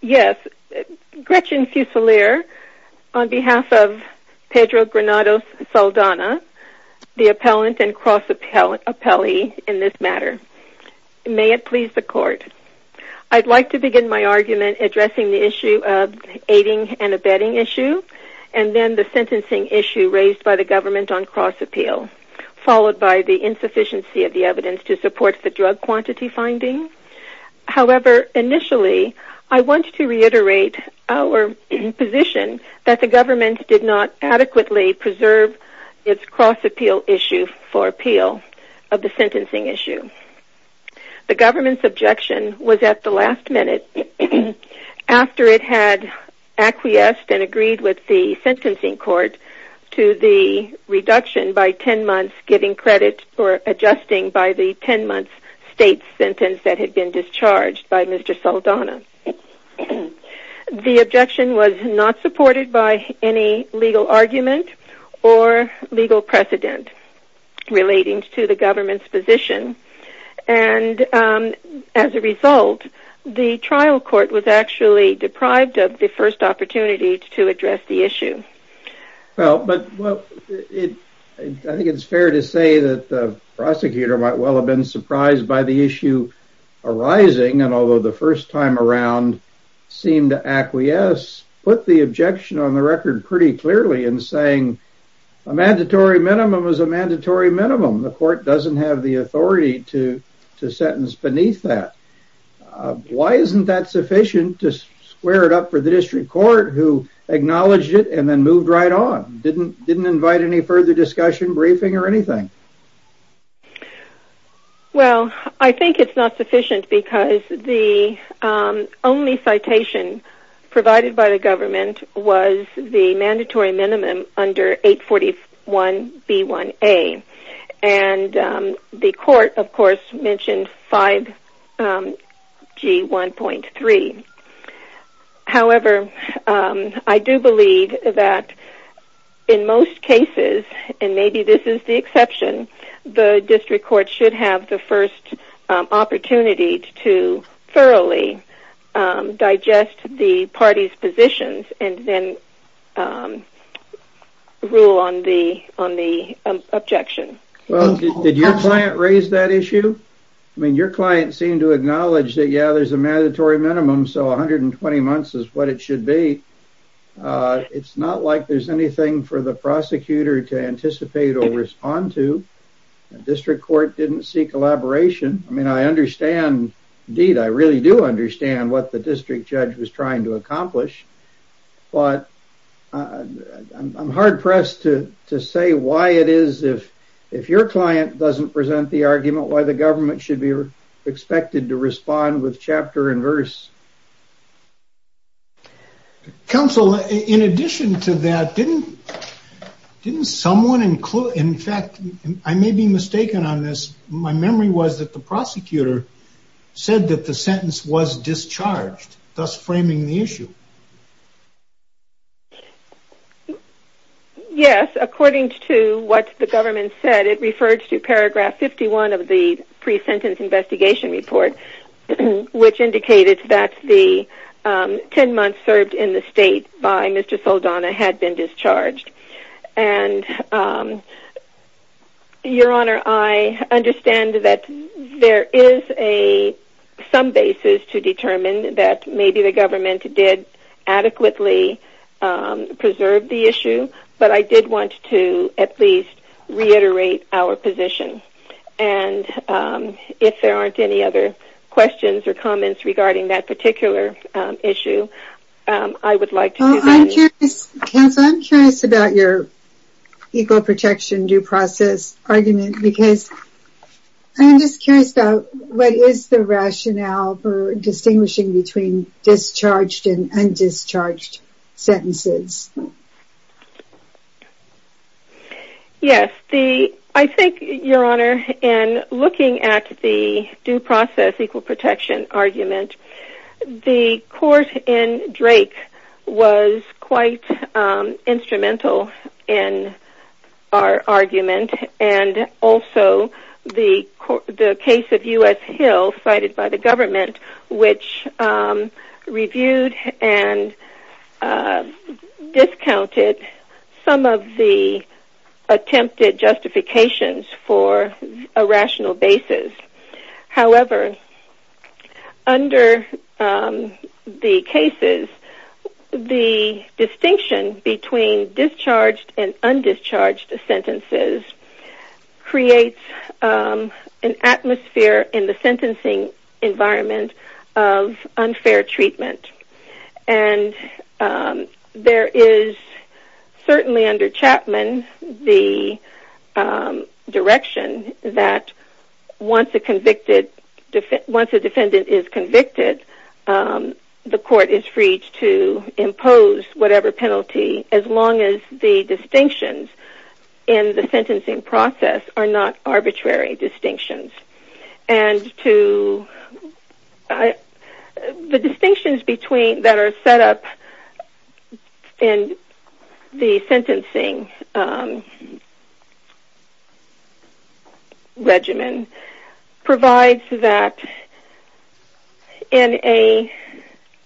Yes, Gretchen Fusilier on behalf of Pedro Granados Saldana, the appellant and cross appellee in this matter. May it please the court. I'd like to begin my argument addressing the issue of aiding and abetting issue and then the sentencing issue raised by the government on cross appeal, followed by the insufficiency of the evidence to support the drug quantity finding. However, initially, I want to reiterate our position that the government did not adequately preserve its cross appeal issue for appeal of the sentencing issue. The government's objection was at the last minute after it had acquiesced and agreed with the sentencing court to the reduction by 10 months giving credit for adjusting by the 10 months state sentence that had been discharged by Mr. Saldana. The objection was not supported by any legal argument or legal precedent relating to the government's position and as a result, the Well, but well, it I think it's fair to say that the prosecutor might well have been surprised by the issue arising and although the first time around seemed to acquiesce, put the objection on the record pretty clearly in saying a mandatory minimum is a mandatory minimum. The court doesn't have the authority to to sentence beneath that. Why isn't that sufficient to square it up for the district court who acknowledged it and then moved right on? Didn't didn't invite any further discussion briefing or anything. Well, I think it's not sufficient because the only citation provided by the government was the mandatory minimum under 841 B1A and the court of course mentioned 5G 1.3. However, I do believe that in most cases and maybe this is the exception, the district court should have the first opportunity to thoroughly digest the party's positions and then rule on the on the objection. Well, did your client raise that issue? I mean, your client seemed to acknowledge that yeah, there's a mandatory minimum. So 120 months is what it should be. It's not like there's anything for the prosecutor to anticipate or respond to. The district court didn't see collaboration. I mean, I understand. Indeed, I really do understand what the district judge was saying, but I'm hard-pressed to say why it is if your client doesn't present the argument why the government should be expected to respond with chapter and verse. Counsel, in addition to that, didn't someone include, in fact, I may be mistaken on this, my memory was that the prosecutor said that the sentence was discharged, thus framing the issue. Yes, according to what the government said, it refers to paragraph 51 of the pre-sentence investigation report, which indicated that the 10 months served in the state by Mr. Saldana had been discharged. And your honor, I understand that there is a some basis to determine that maybe the government did adequately preserve the issue. But I did want to at least reiterate our position. And if there aren't any other questions or comments regarding that particular issue, I would like to do that. Counsel, I'm curious about your equal protection due process argument because I'm just curious about what is the rationale for distinguishing between discharged and undischarged sentences. Yes, I think, your honor, in looking at the due process equal protection argument, the court in Drake was quite instrumental in our argument and also the case of U.S. Hill cited by the government, which reviewed and discounted some of the attempted justifications for a rational basis. However, under the cases, the distinction between discharged and undischarged sentences creates an atmosphere in the sentencing environment of unfair treatment. And there is certainly under Chapman the direction that once a defendant is convicted, the court is free to impose whatever penalty, as long as the distinctions in the sentencing process are not The distinctions that are set up in the sentencing regimen provides that in an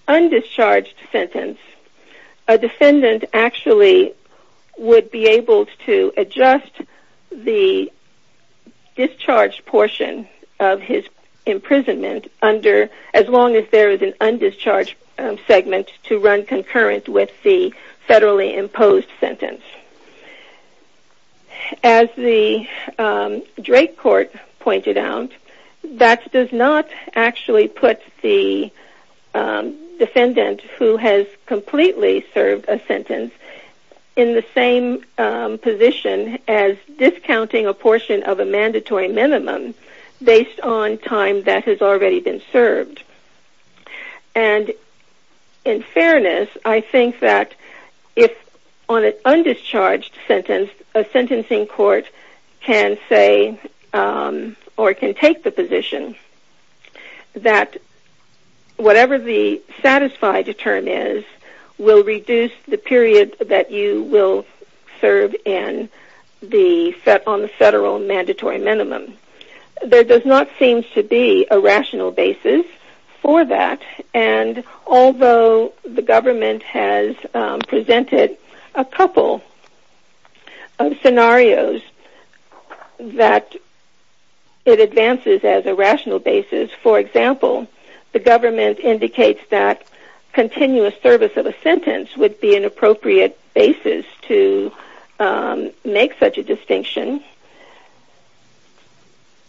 undischarged sentence, a defendant actually would be imprisoned as long as there is an undischarged segment to run concurrent with the federally imposed sentence. As the Drake court pointed out, that does not actually put the defendant who has completely served a sentence in the same position as discounting a mandatory minimum based on time that has already been served. In fairness, I think that if on an undischarged sentence, a sentencing court can say or can take the position that whatever the satisfied term is will reduce the period that you will serve on the federal mandatory minimum. There does not seem to be a rational basis for that, and although the government has presented a couple of scenarios that it advances as a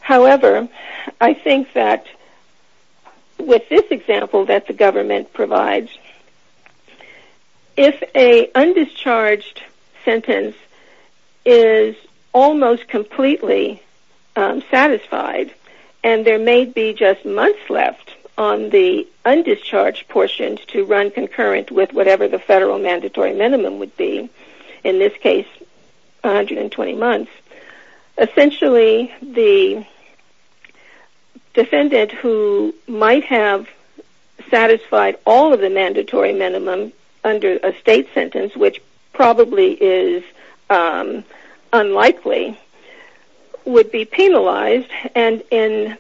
However, I think that with this example that the government provides, if an undischarged sentence is almost completely satisfied, and there may be just undischarged portions to run concurrent with whatever the federal mandatory minimum would be, in this case 120 months, essentially the defendant who might have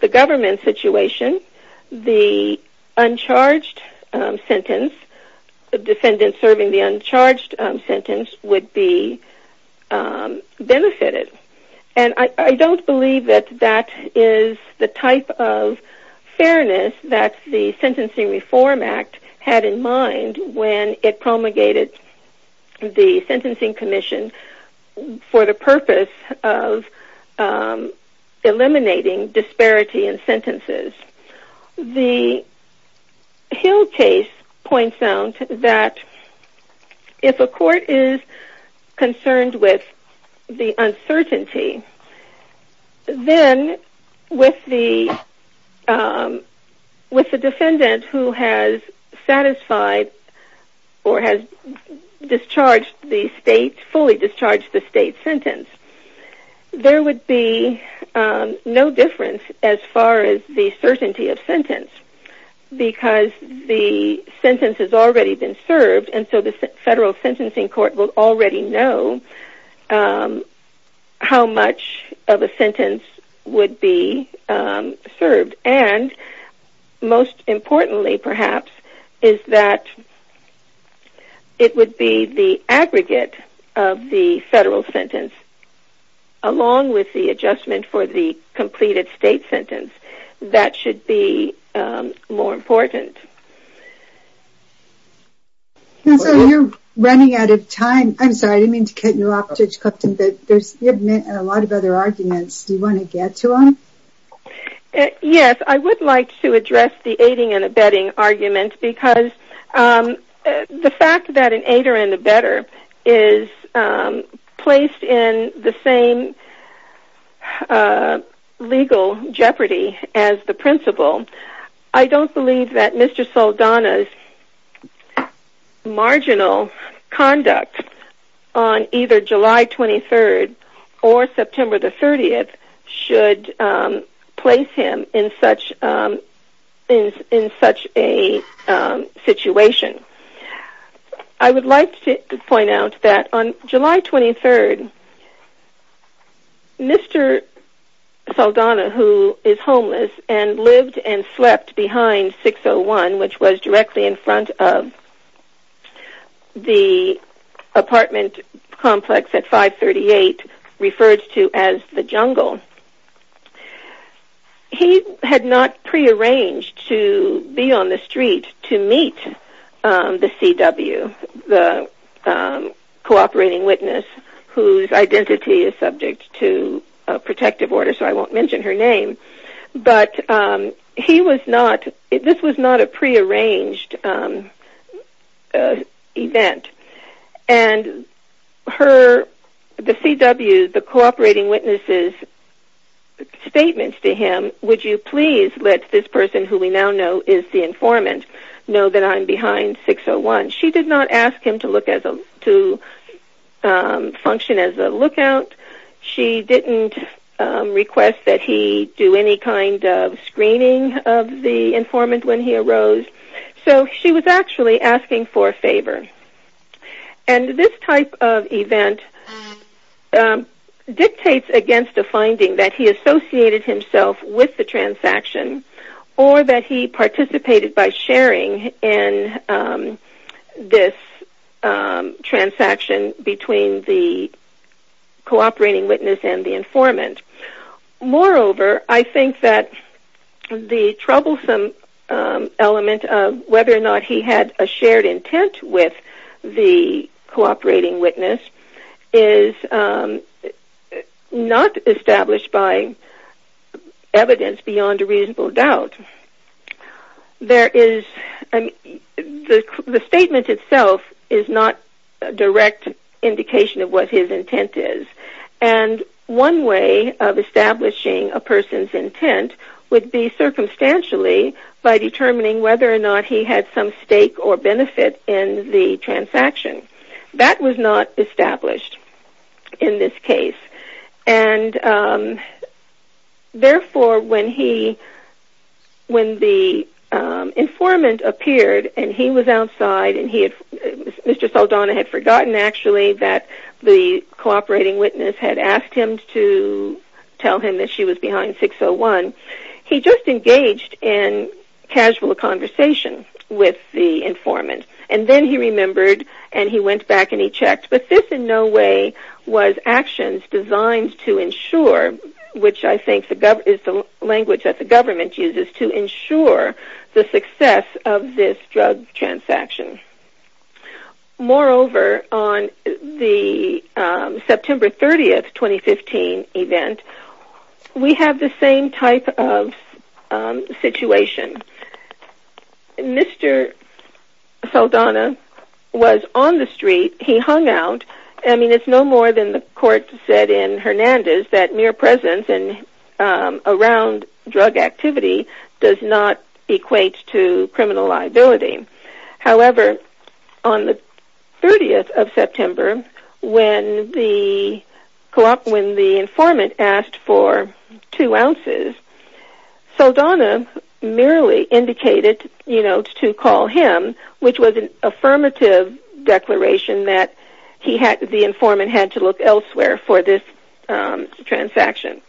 government situation, the undischarged sentence, the defendant serving the undischarged sentence, would be benefited. I don't believe that that is the type of sentences. The Hill case points out that if a court is concerned with the uncertainty, then with the defendant who has satisfied or has discharged the state, sentence, there would be no difference as far as the certainty of sentence, because the sentence has already been served, and so the federal sentencing court will already know how much of a sentence would be served. Most importantly, perhaps, is that it would be the aggregate of the federal sentence, along with the adjustment for the completed state sentence, that should be more important. I would like to address the aiding and abetting argument, because the fact that an aider and abetter is placed in the same legal jeopardy as the principal, I don't believe that Mr. Saldana's marginal conduct on either July 23rd or September 30th should place him in such a situation. I would like to point out that on July 23rd, Mr. Saldana, who is homeless and lived and slept behind 601, which was directly in front of the apartment complex at 538, referred to as the jungle, he had not prearranged to be on the street to meet the CW, the cooperating witness, whose identity is subject to a protective order, so I won't mention her name, but this was not a prearranged event. The CW, the cooperating witness's statement to him, would you please let this person, who we now know is the informant, know that I'm behind 601. She did not ask him to function as a lookout, she didn't request that he do any kind of screening of the informant when he arose, so she was actually asking for a favor. This type of event dictates against a finding that he associated himself with the transaction or that he participated by sharing in this transaction between the cooperating witness and the informant. Moreover, I think that the troublesome element of whether or not he had a shared intent with the cooperating witness is not established by evidence beyond a reasonable doubt. The statement itself is not a direct indication of what his intent is, and one way of establishing a person's intent would be circumstantially by determining whether or not he had some stake or benefit in the transaction. That was not established in this case, and therefore when the informant appeared and he was outside, and Mr. Saldana had forgotten actually that the cooperating witness had asked him to tell him that she was behind 601, he just engaged in casual conversation with the informant, and then he remembered and he went back and he checked, but this in no way was actions designed to ensure, which I think is the language that the government uses, to ensure the success of this drug transaction. Moreover, on the September 30, 2015 event, we have the same type of situation. Mr. Saldana was on the street, he hung out, and it's no more than the court said in Hernandez that mere presence around drug activity does not equate to criminal liability. However, on the 30th of September, when the informant asked for two ounces, Saldana merely indicated to call him, which was an affirmative declaration that the informant had to look elsewhere for this transaction.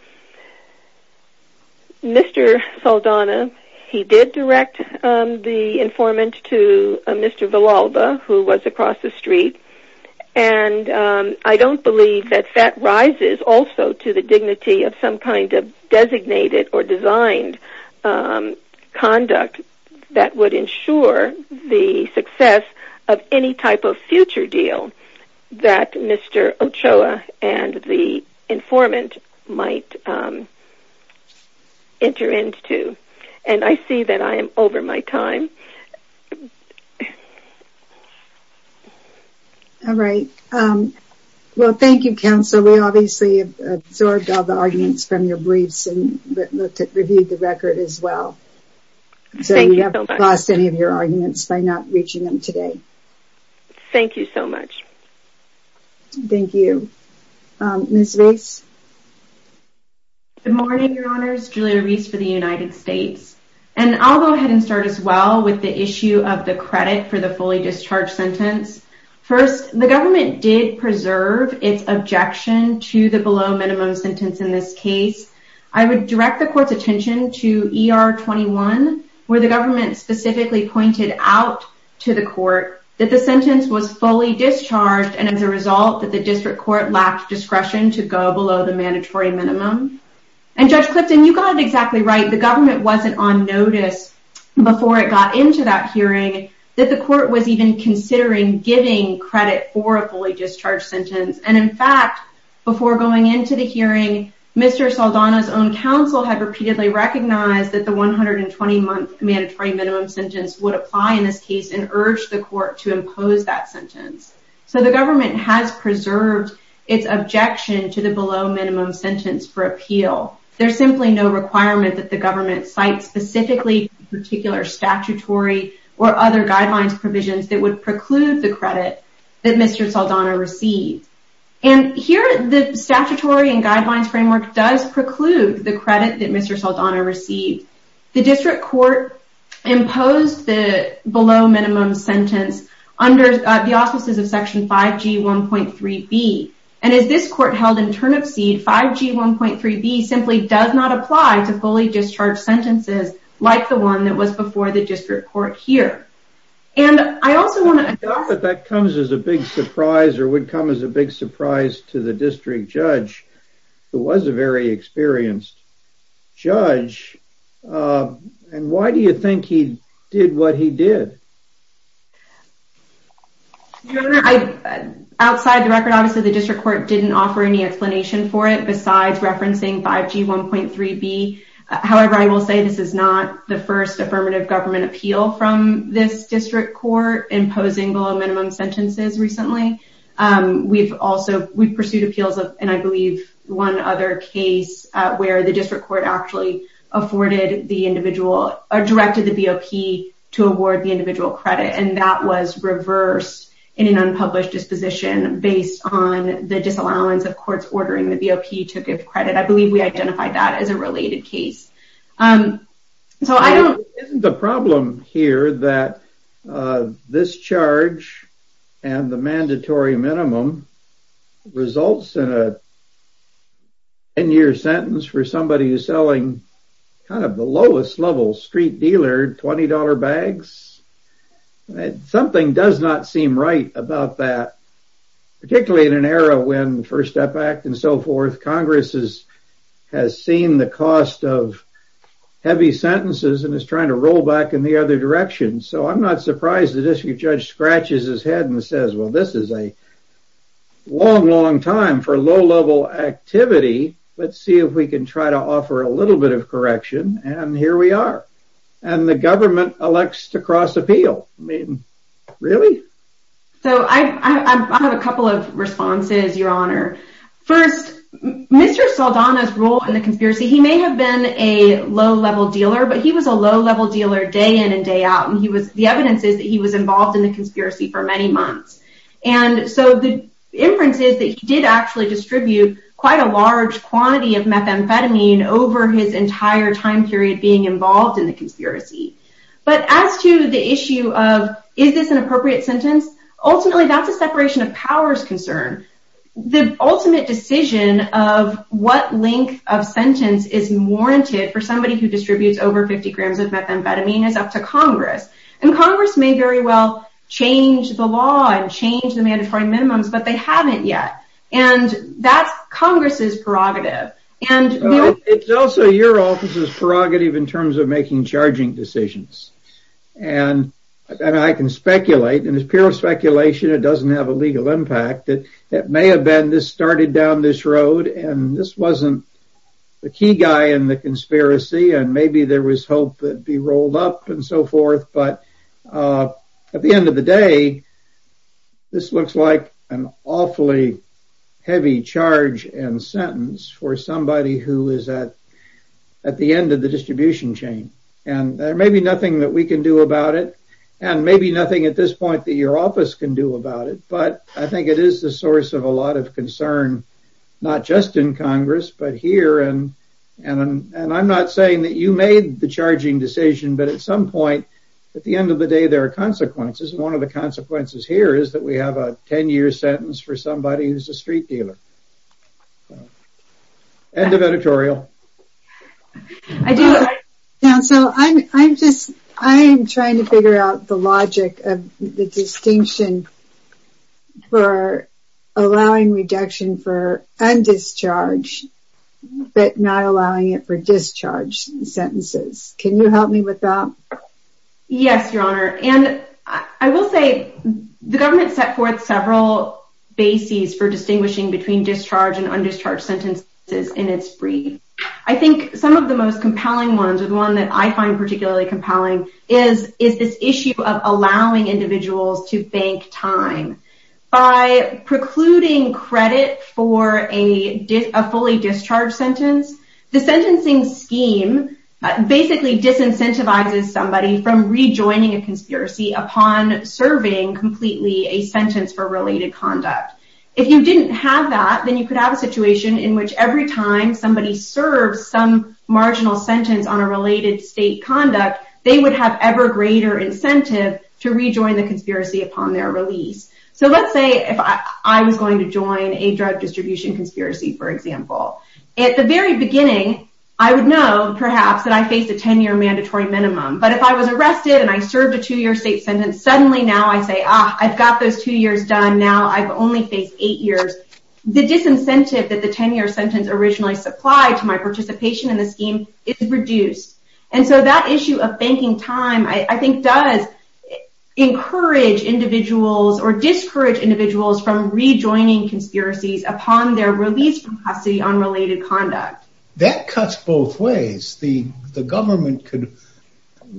Mr. Saldana, he did direct the informant to Mr. Villalba, who was across the street, and I don't believe that that rises also to the dignity of some kind of designated or designed conduct that would ensure the success of any type of future deal that Mr. Ochoa and the informant might enter into. And I see that I am over my time. All right. Well, thank you, counsel. We obviously absorbed all the arguments from your briefs and reviewed the record as well. Thank you so much. So we haven't lost any of your arguments by not reaching them today. Thank you so much. Thank you. Ms. Reis? Good morning, Your Honors. Julia Reis for the United States. And I'll go ahead and start as well with the issue of the credit for the fully discharged sentence. First, the government did preserve its objection to the below minimum sentence in this case. I would direct the court's attention to ER 21, where the government specifically pointed out to the court that the sentence was fully discharged and, as a result, that the district court lacked discretion to go below the mandatory minimum. And, Judge Clifton, you got it exactly right. The government wasn't on notice before it got into that hearing that the court was even considering giving credit for a fully discharged sentence. And, in fact, before going into the hearing, Mr. Saldana's own counsel had repeatedly recognized that the 120-month mandatory minimum sentence would apply in this case and urged the court to impose that sentence. So the government has preserved its objection to the below minimum sentence for appeal. There's simply no requirement that the government cite specifically particular statutory or other guidelines provisions that would preclude the credit that Mr. Saldana received. And here, the statutory and guidelines framework does preclude the credit that Mr. Saldana received. The district court imposed the below minimum sentence under the offices of Section 5G 1.3b. And, as this court held in Turnipseed, 5G 1.3b simply does not apply to fully discharged sentences like the one that was before the district court here. I doubt that that comes as a big surprise or would come as a big surprise to the district judge, who was a very experienced judge. And why do you think he did what he did? Your Honor, outside the record, obviously, the district court didn't offer any explanation for it besides referencing 5G 1.3b. However, I will say this is not the first affirmative government appeal from this district court imposing below minimum sentences recently. We've also pursued appeals of, and I believe one other case where the district court actually afforded the individual or directed the BOP to award the individual credit. And that was reversed in an unpublished disposition based on the disallowance of courts ordering the BOP to give credit. I believe we identified that as a related case. Isn't the problem here that this charge and the mandatory minimum results in a 10-year sentence for somebody who's selling kind of the lowest level street dealer $20 bags? Something does not seem right about that. Particularly in an era when the First Step Act and so forth, Congress has seen the cost of heavy sentences and is trying to roll back in the other direction. So I'm not surprised the district judge scratches his head and says, well, this is a long, long time for low-level activity. Let's see if we can try to offer a little bit of correction. And here we are. And the government elects to cross appeal. I mean, really? So I have a couple of responses, Your Honor. First, Mr. Saldana's role in the conspiracy, he may have been a low-level dealer, but he was a low-level dealer day in and day out. And the evidence is that he was involved in the conspiracy for many months. And so the inference is that he did actually distribute quite a large quantity of methamphetamine over his entire time period being involved in the conspiracy. But as to the issue of is this an appropriate sentence, ultimately that's a separation of powers concern. The ultimate decision of what length of sentence is warranted for somebody who distributes over 50 grams of methamphetamine is up to Congress. And Congress may very well change the law and change the mandatory minimums, but they haven't yet. And that's Congress's prerogative. It's also your office's prerogative in terms of making charging decisions. And I can speculate, and it's pure speculation. It doesn't have a legal impact. It may have been this started down this road, and this wasn't the key guy in the conspiracy. And maybe there was hope that it would be rolled up and so forth. But at the end of the day, this looks like an awfully heavy charge and sentence for somebody who is at the end of the distribution chain. And there may be nothing that we can do about it, and maybe nothing at this point that your office can do about it. But I think it is the source of a lot of concern, not just in Congress, but here. And I'm not saying that you made the charging decision, but at some point, at the end of the day, there are consequences. And one of the consequences here is that we have a 10-year sentence for somebody who's a street dealer. End of editorial. I do. Counsel, I'm trying to figure out the logic of the distinction for allowing reduction for undischarged, but not allowing it for discharged sentences. Can you help me with that? Yes, Your Honor. And I will say, the government set forth several bases for distinguishing between discharged and undischarged sentences in its brief. I think some of the most compelling ones, or the one that I find particularly compelling, is this issue of allowing individuals to bank time. By precluding credit for a fully discharged sentence, the sentencing scheme basically disincentivizes somebody from rejoining a conspiracy upon serving completely a sentence for related conduct. If you didn't have that, then you could have a situation in which every time somebody serves some marginal sentence on a related state conduct, they would have ever greater incentive to rejoin the conspiracy upon their release. So let's say if I was going to join a drug distribution conspiracy, for example. At the very beginning, I would know, perhaps, that I faced a 10-year mandatory minimum. But if I was arrested and I served a two-year state sentence, suddenly now I say, ah, I've got those two years done. Now I've only faced eight years. The disincentive that the 10-year sentence originally supplied to my participation in the scheme is reduced. And so that issue of banking time, I think, does encourage individuals or discourage individuals from rejoining conspiracies upon their release from custody on related conduct. That cuts both ways. The government could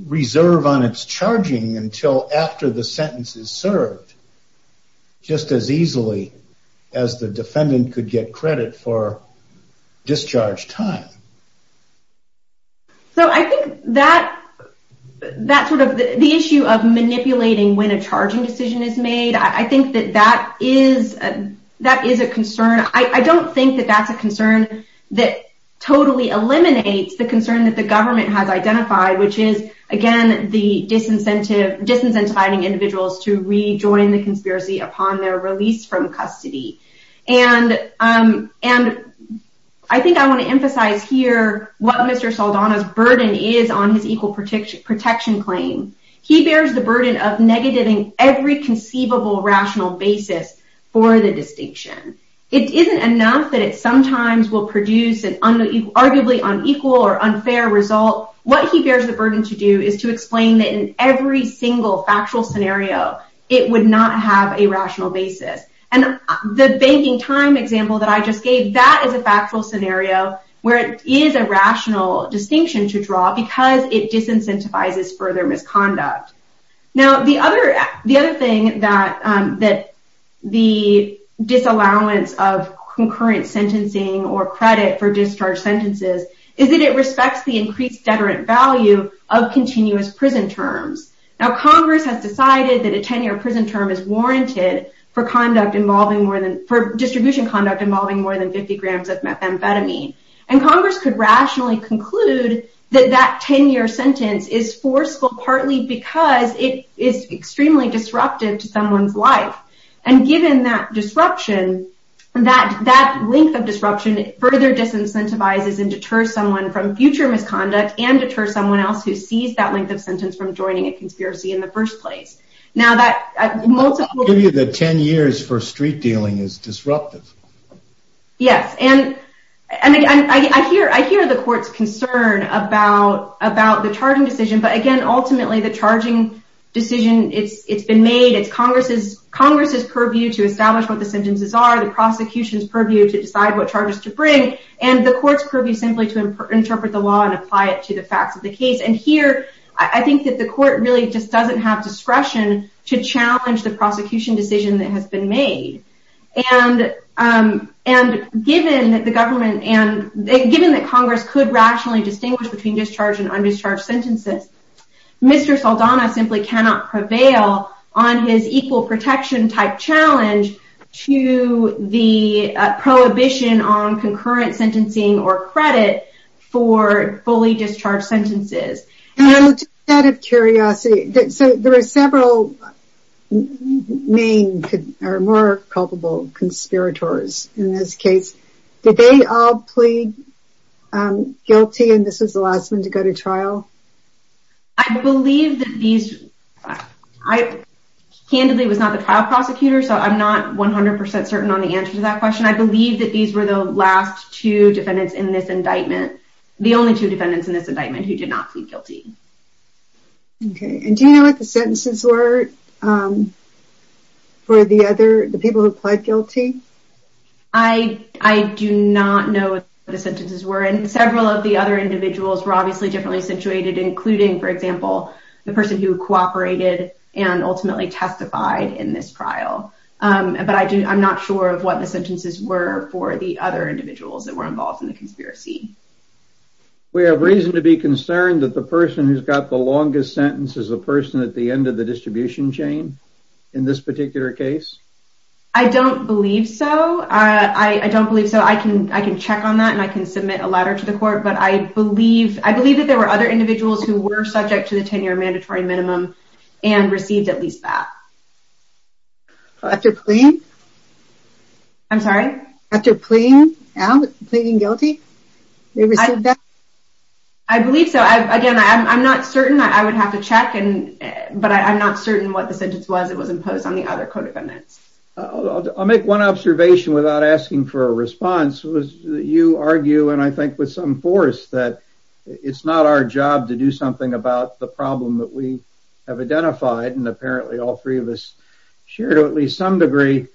reserve on its charging until after the sentence is served just as easily as the defendant could get credit for discharged time. So I think that sort of the issue of manipulating when a charging decision is made, I think that that is a concern. I don't think that that's a concern that totally eliminates the concern that the government has identified, which is, again, the disincentive, disincentivizing individuals to rejoin the conspiracy upon their release from custody. And I think I want to emphasize here what Mr. Saldana's burden is on his equal protection claim. He bears the burden of negating every conceivable rational basis for the distinction. It isn't enough that it sometimes will produce an arguably unequal or unfair result. What he bears the burden to do is to explain that in every single factual scenario, it would not have a rational basis. And the banking time example that I just gave, that is a factual scenario where it is a rational distinction to draw because it disincentivizes further misconduct. Now, the other thing that the disallowance of concurrent sentencing or credit for discharged sentences is that it respects the increased deterrent value of continuous prison terms. Now, Congress has decided that a 10-year prison term is warranted for distribution conduct involving more than 50 grams of methamphetamine. And Congress could rationally conclude that that 10-year sentence is forceful partly because it is extremely disruptive to someone's life. And given that disruption, that length of disruption further disincentivizes and deters someone from future misconduct and deters someone else who sees that length of sentence from joining a conspiracy in the first place. Now, that multiple... I'll give you the 10 years for street dealing is disruptive. Yes, and I hear the court's concern about the charging decision. But again, ultimately, the charging decision, it's been made. It's Congress's purview to establish what the sentences are. The prosecution's purview to decide what charges to bring. And the court's purview simply to interpret the law and apply it to the facts of the case. And here, I think that the court really just doesn't have discretion to challenge the prosecution decision that has been made. And given that Congress could rationally distinguish between discharged and undischarged sentences, Mr. Saldana simply cannot prevail on his equal protection type challenge to the prohibition on concurrent sentencing or credit for fully discharged sentences. Out of curiosity, there are several main or more culpable conspirators in this case. Did they all plead guilty and this was the last one to go to trial? I believe that these... I candidly was not the trial prosecutor, so I'm not 100% certain on the answer to that question. I believe that these were the last two defendants in this indictment. The only two defendants in this indictment who did not plead guilty. Okay. And do you know what the sentences were for the people who pled guilty? I do not know what the sentences were. And several of the other individuals were obviously differently situated, including, for example, the person who cooperated and ultimately testified in this trial. But I'm not sure of what the sentences were for the other individuals that were involved in the conspiracy. We have reason to be concerned that the person who's got the longest sentence is the person at the end of the distribution chain in this particular case? I don't believe so. I don't believe so. I can check on that and I can submit a letter to the court. I believe that there were other individuals who were subject to the 10-year mandatory minimum and received at least that. After pleading? I'm sorry? After pleading guilty? They received that? I believe so. Again, I'm not certain. I would have to check. But I'm not certain what the sentence was that was imposed on the other co-defendants. I'll make one observation without asking for a response. You argue, and I think with some force, that it's not our job to do something about the problem that we have identified. And apparently all three of us share to at least some degree.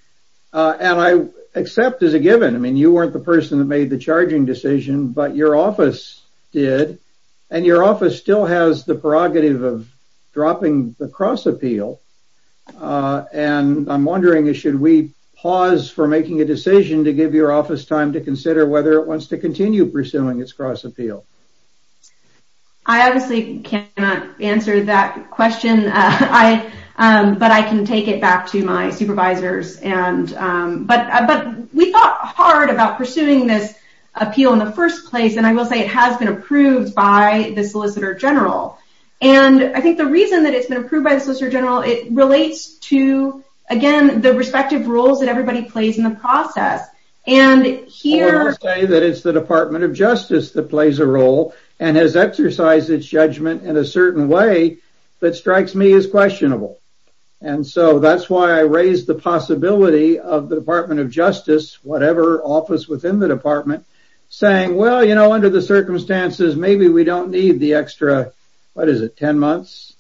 And I accept as a given. I mean, you weren't the person that made the charging decision, but your office did. And your office still has the prerogative of dropping the cross-appeal. And I'm wondering, should we pause for making a decision to give your office time to consider whether it wants to continue pursuing its cross-appeal? I obviously cannot answer that question. But I can take it back to my supervisors. But we thought hard about pursuing this appeal in the first place, and I will say it has been approved by the Solicitor General. And I think the reason that it's been approved by the Solicitor General, it relates to, again, the respective roles that everybody plays in the process. I want to say that it's the Department of Justice that plays a role and has exercised its judgment in a certain way that strikes me as questionable. And so that's why I raise the possibility of the Department of Justice, whatever office within the department, saying, well, you know, under the circumstances, maybe we don't need the extra, what is it, 10 months?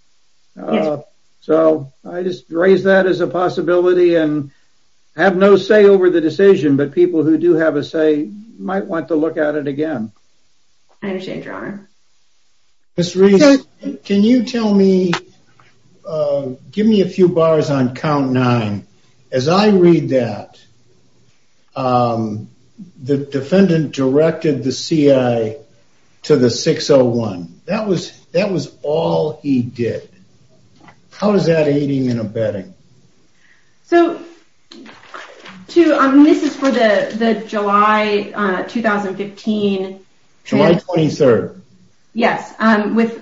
Yes. So I just raise that as a possibility and have no say over the decision. But people who do have a say might want to look at it again. I understand, Your Honor. Ms. Reese, can you tell me, give me a few bars on count nine. As I read that, the defendant directed the CIA to the 601. That was all he did. How is that aiding and abetting? So, this is for the July 2015. July 23rd. Yes,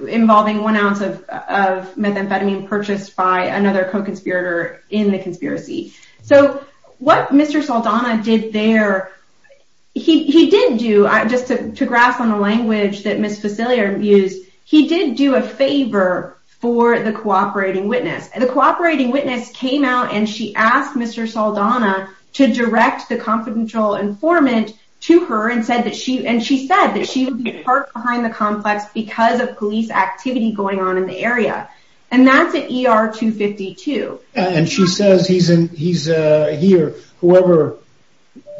involving one ounce of methamphetamine purchased by another co-conspirator in the conspiracy. So what Mr. Saldana did there, he did do, just to grasp on the language that Ms. Facilier used, he did do a favor for the cooperating witness. The cooperating witness came out and she asked Mr. Saldana to direct the confidential informant to her and she said that she would be parked behind the complex because of police activity going on in the area. And that's at ER 252. And she says he's here, whoever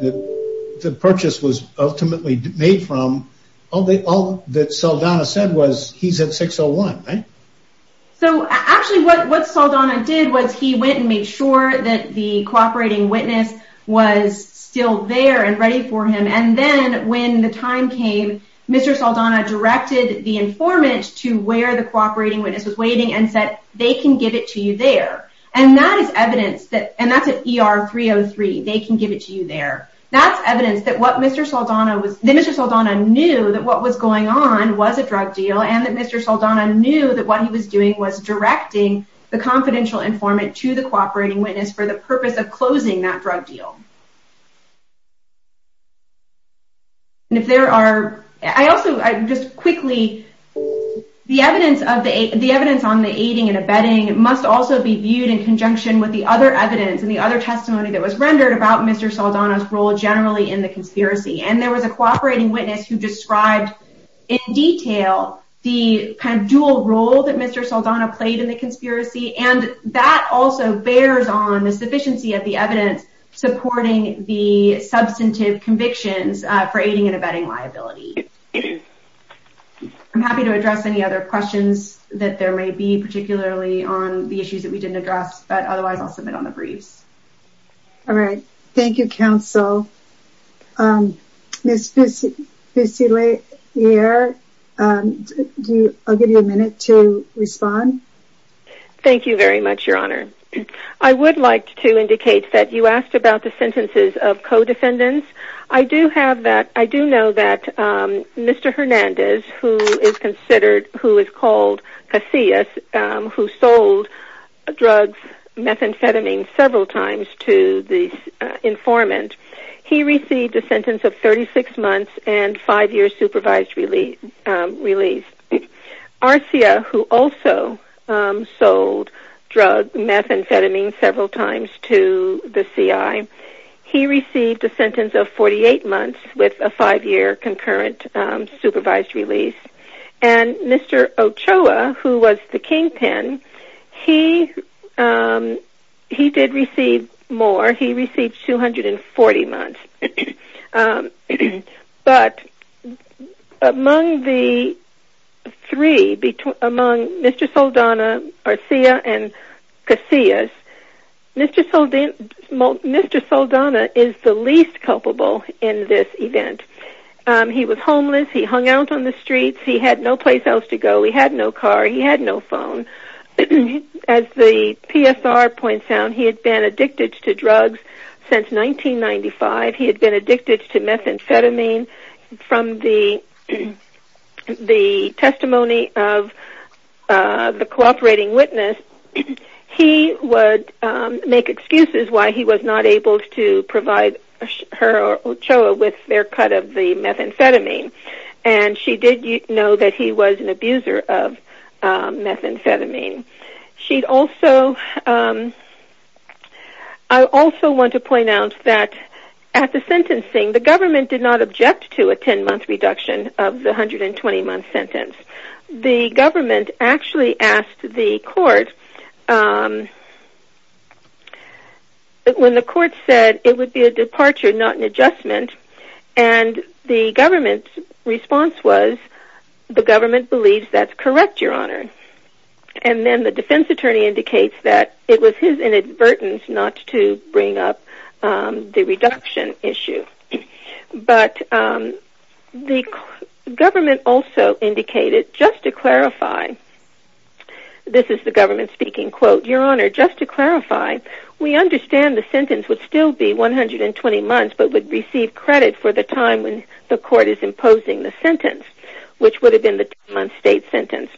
the purchase was ultimately made from, all that Saldana said was he's at 601, right? So, actually what Saldana did was he went and made sure that the cooperating witness was still there and ready for him. And then when the time came, Mr. Saldana directed the informant to where the cooperating witness was waiting and said they can give it to you there. And that is evidence that, and that's at ER 303, they can give it to you there. That's evidence that Mr. Saldana knew that what was going on was a drug deal and that Mr. Saldana knew that what he was doing was directing the confidential informant to the cooperating witness for the purpose of closing that drug deal. And if there are, I also, just quickly, the evidence on the aiding and abetting must also be viewed in conjunction with the other evidence and the other testimony that was rendered about Mr. Saldana's role generally in the conspiracy. And there was a cooperating witness who described in detail the kind of dual role that Mr. Saldana played in the conspiracy. And that also bears on the sufficiency of the evidence supporting the substantive convictions for aiding and abetting liability. I'm happy to address any other questions that there may be, particularly on the issues that we didn't address, but otherwise I'll submit on the briefs. All right. Thank you, Counsel. Ms. Fusiliere, I'll give you a minute to respond. Thank you very much, Your Honor. I would like to indicate that you asked about the sentences of codefendants. I do know that Mr. Hernandez, who is called Casillas, who sold drugs, methamphetamine, several times to the informant, he received a sentence of 36 months and five years supervised release. Arcia, who also sold drugs, methamphetamine, several times to the CI, he received a sentence of 48 months with a five-year concurrent supervised release. And Mr. Ochoa, who was the kingpin, he did receive more. He received 240 months. But among the three, Mr. Saldana, Arcia, and Casillas, Mr. Saldana is the least culpable in this event. He was homeless, he hung out on the streets, he had no place else to go, he had no car, he had no phone. As the PSR points out, he had been addicted to drugs since 1995. He had been addicted to methamphetamine. From the testimony of the cooperating witness, he would make excuses why he was not able to provide her or Ochoa with their cut of the methamphetamine. And she did know that he was an abuser of methamphetamine. I also want to point out that at the sentencing, the government did not object to a 10-month reduction of the 120-month sentence. The government actually asked the court, when the court said it would be a departure, not an adjustment, and the government's response was, the government believes that's correct, your honor. And then the defense attorney indicates that it was his inadvertence not to bring up the reduction issue. But the government also indicated, just to clarify, this is the government speaking, your honor, just to clarify, we understand the sentence would still be 120 months, but would receive credit for the time when the court is imposing the sentence, which would have been the 10-month state sentence.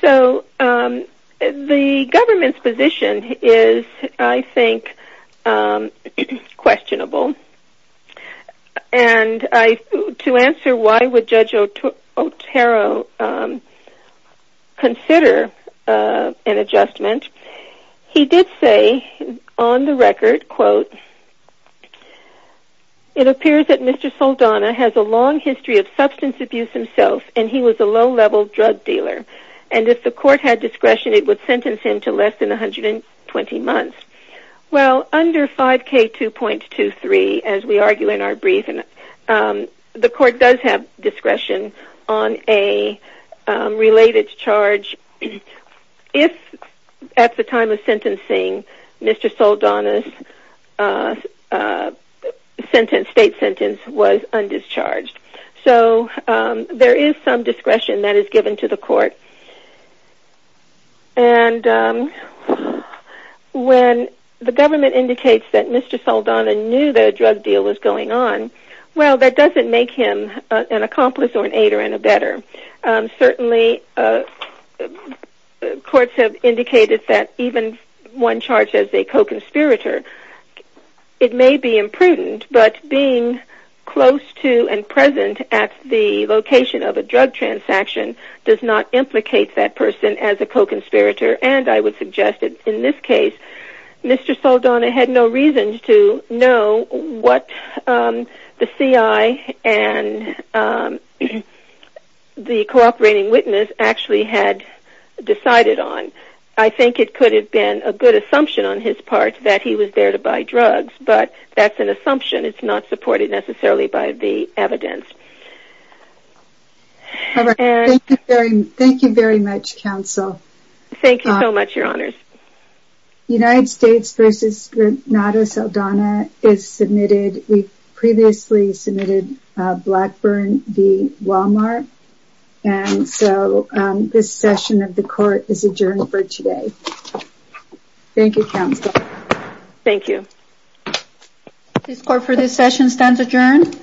So the government's position is, I think, questionable. And to answer why would Judge Otero consider an adjustment, he did say on the record, quote, it appears that Mr. Saldana has a long history of substance abuse himself, and he was a low-level drug dealer. And if the court had discretion, it would sentence him to less than 120 months. Well, under 5K2.23, as we argue in our briefing, the court does have discretion on a related charge, if at the time of sentencing, Mr. Saldana's state sentence was undischarged. So there is some discretion that is given to the court. And when the government indicates that Mr. Saldana knew that a drug deal was going on, well, that doesn't make him an accomplice or an aider and a better. Certainly, courts have indicated that even one charge as a co-conspirator, it may be imprudent, but being close to and present at the location of a drug transaction does not implicate that person as a co-conspirator. And I would suggest that in this case, Mr. Saldana had no reason to know what the CI and the cooperating witness actually had decided on. I think it could have been a good assumption on his part that he was there to buy drugs, but that's an assumption, it's not supported necessarily by the evidence. Thank you very much, Counsel. Thank you so much, Your Honors. United States v. Renato Saldana is submitted. We previously submitted Blackburn v. Walmart, and so this session of the court is adjourned for today. Thank you, Counsel. Thank you. This court for this session stands adjourned.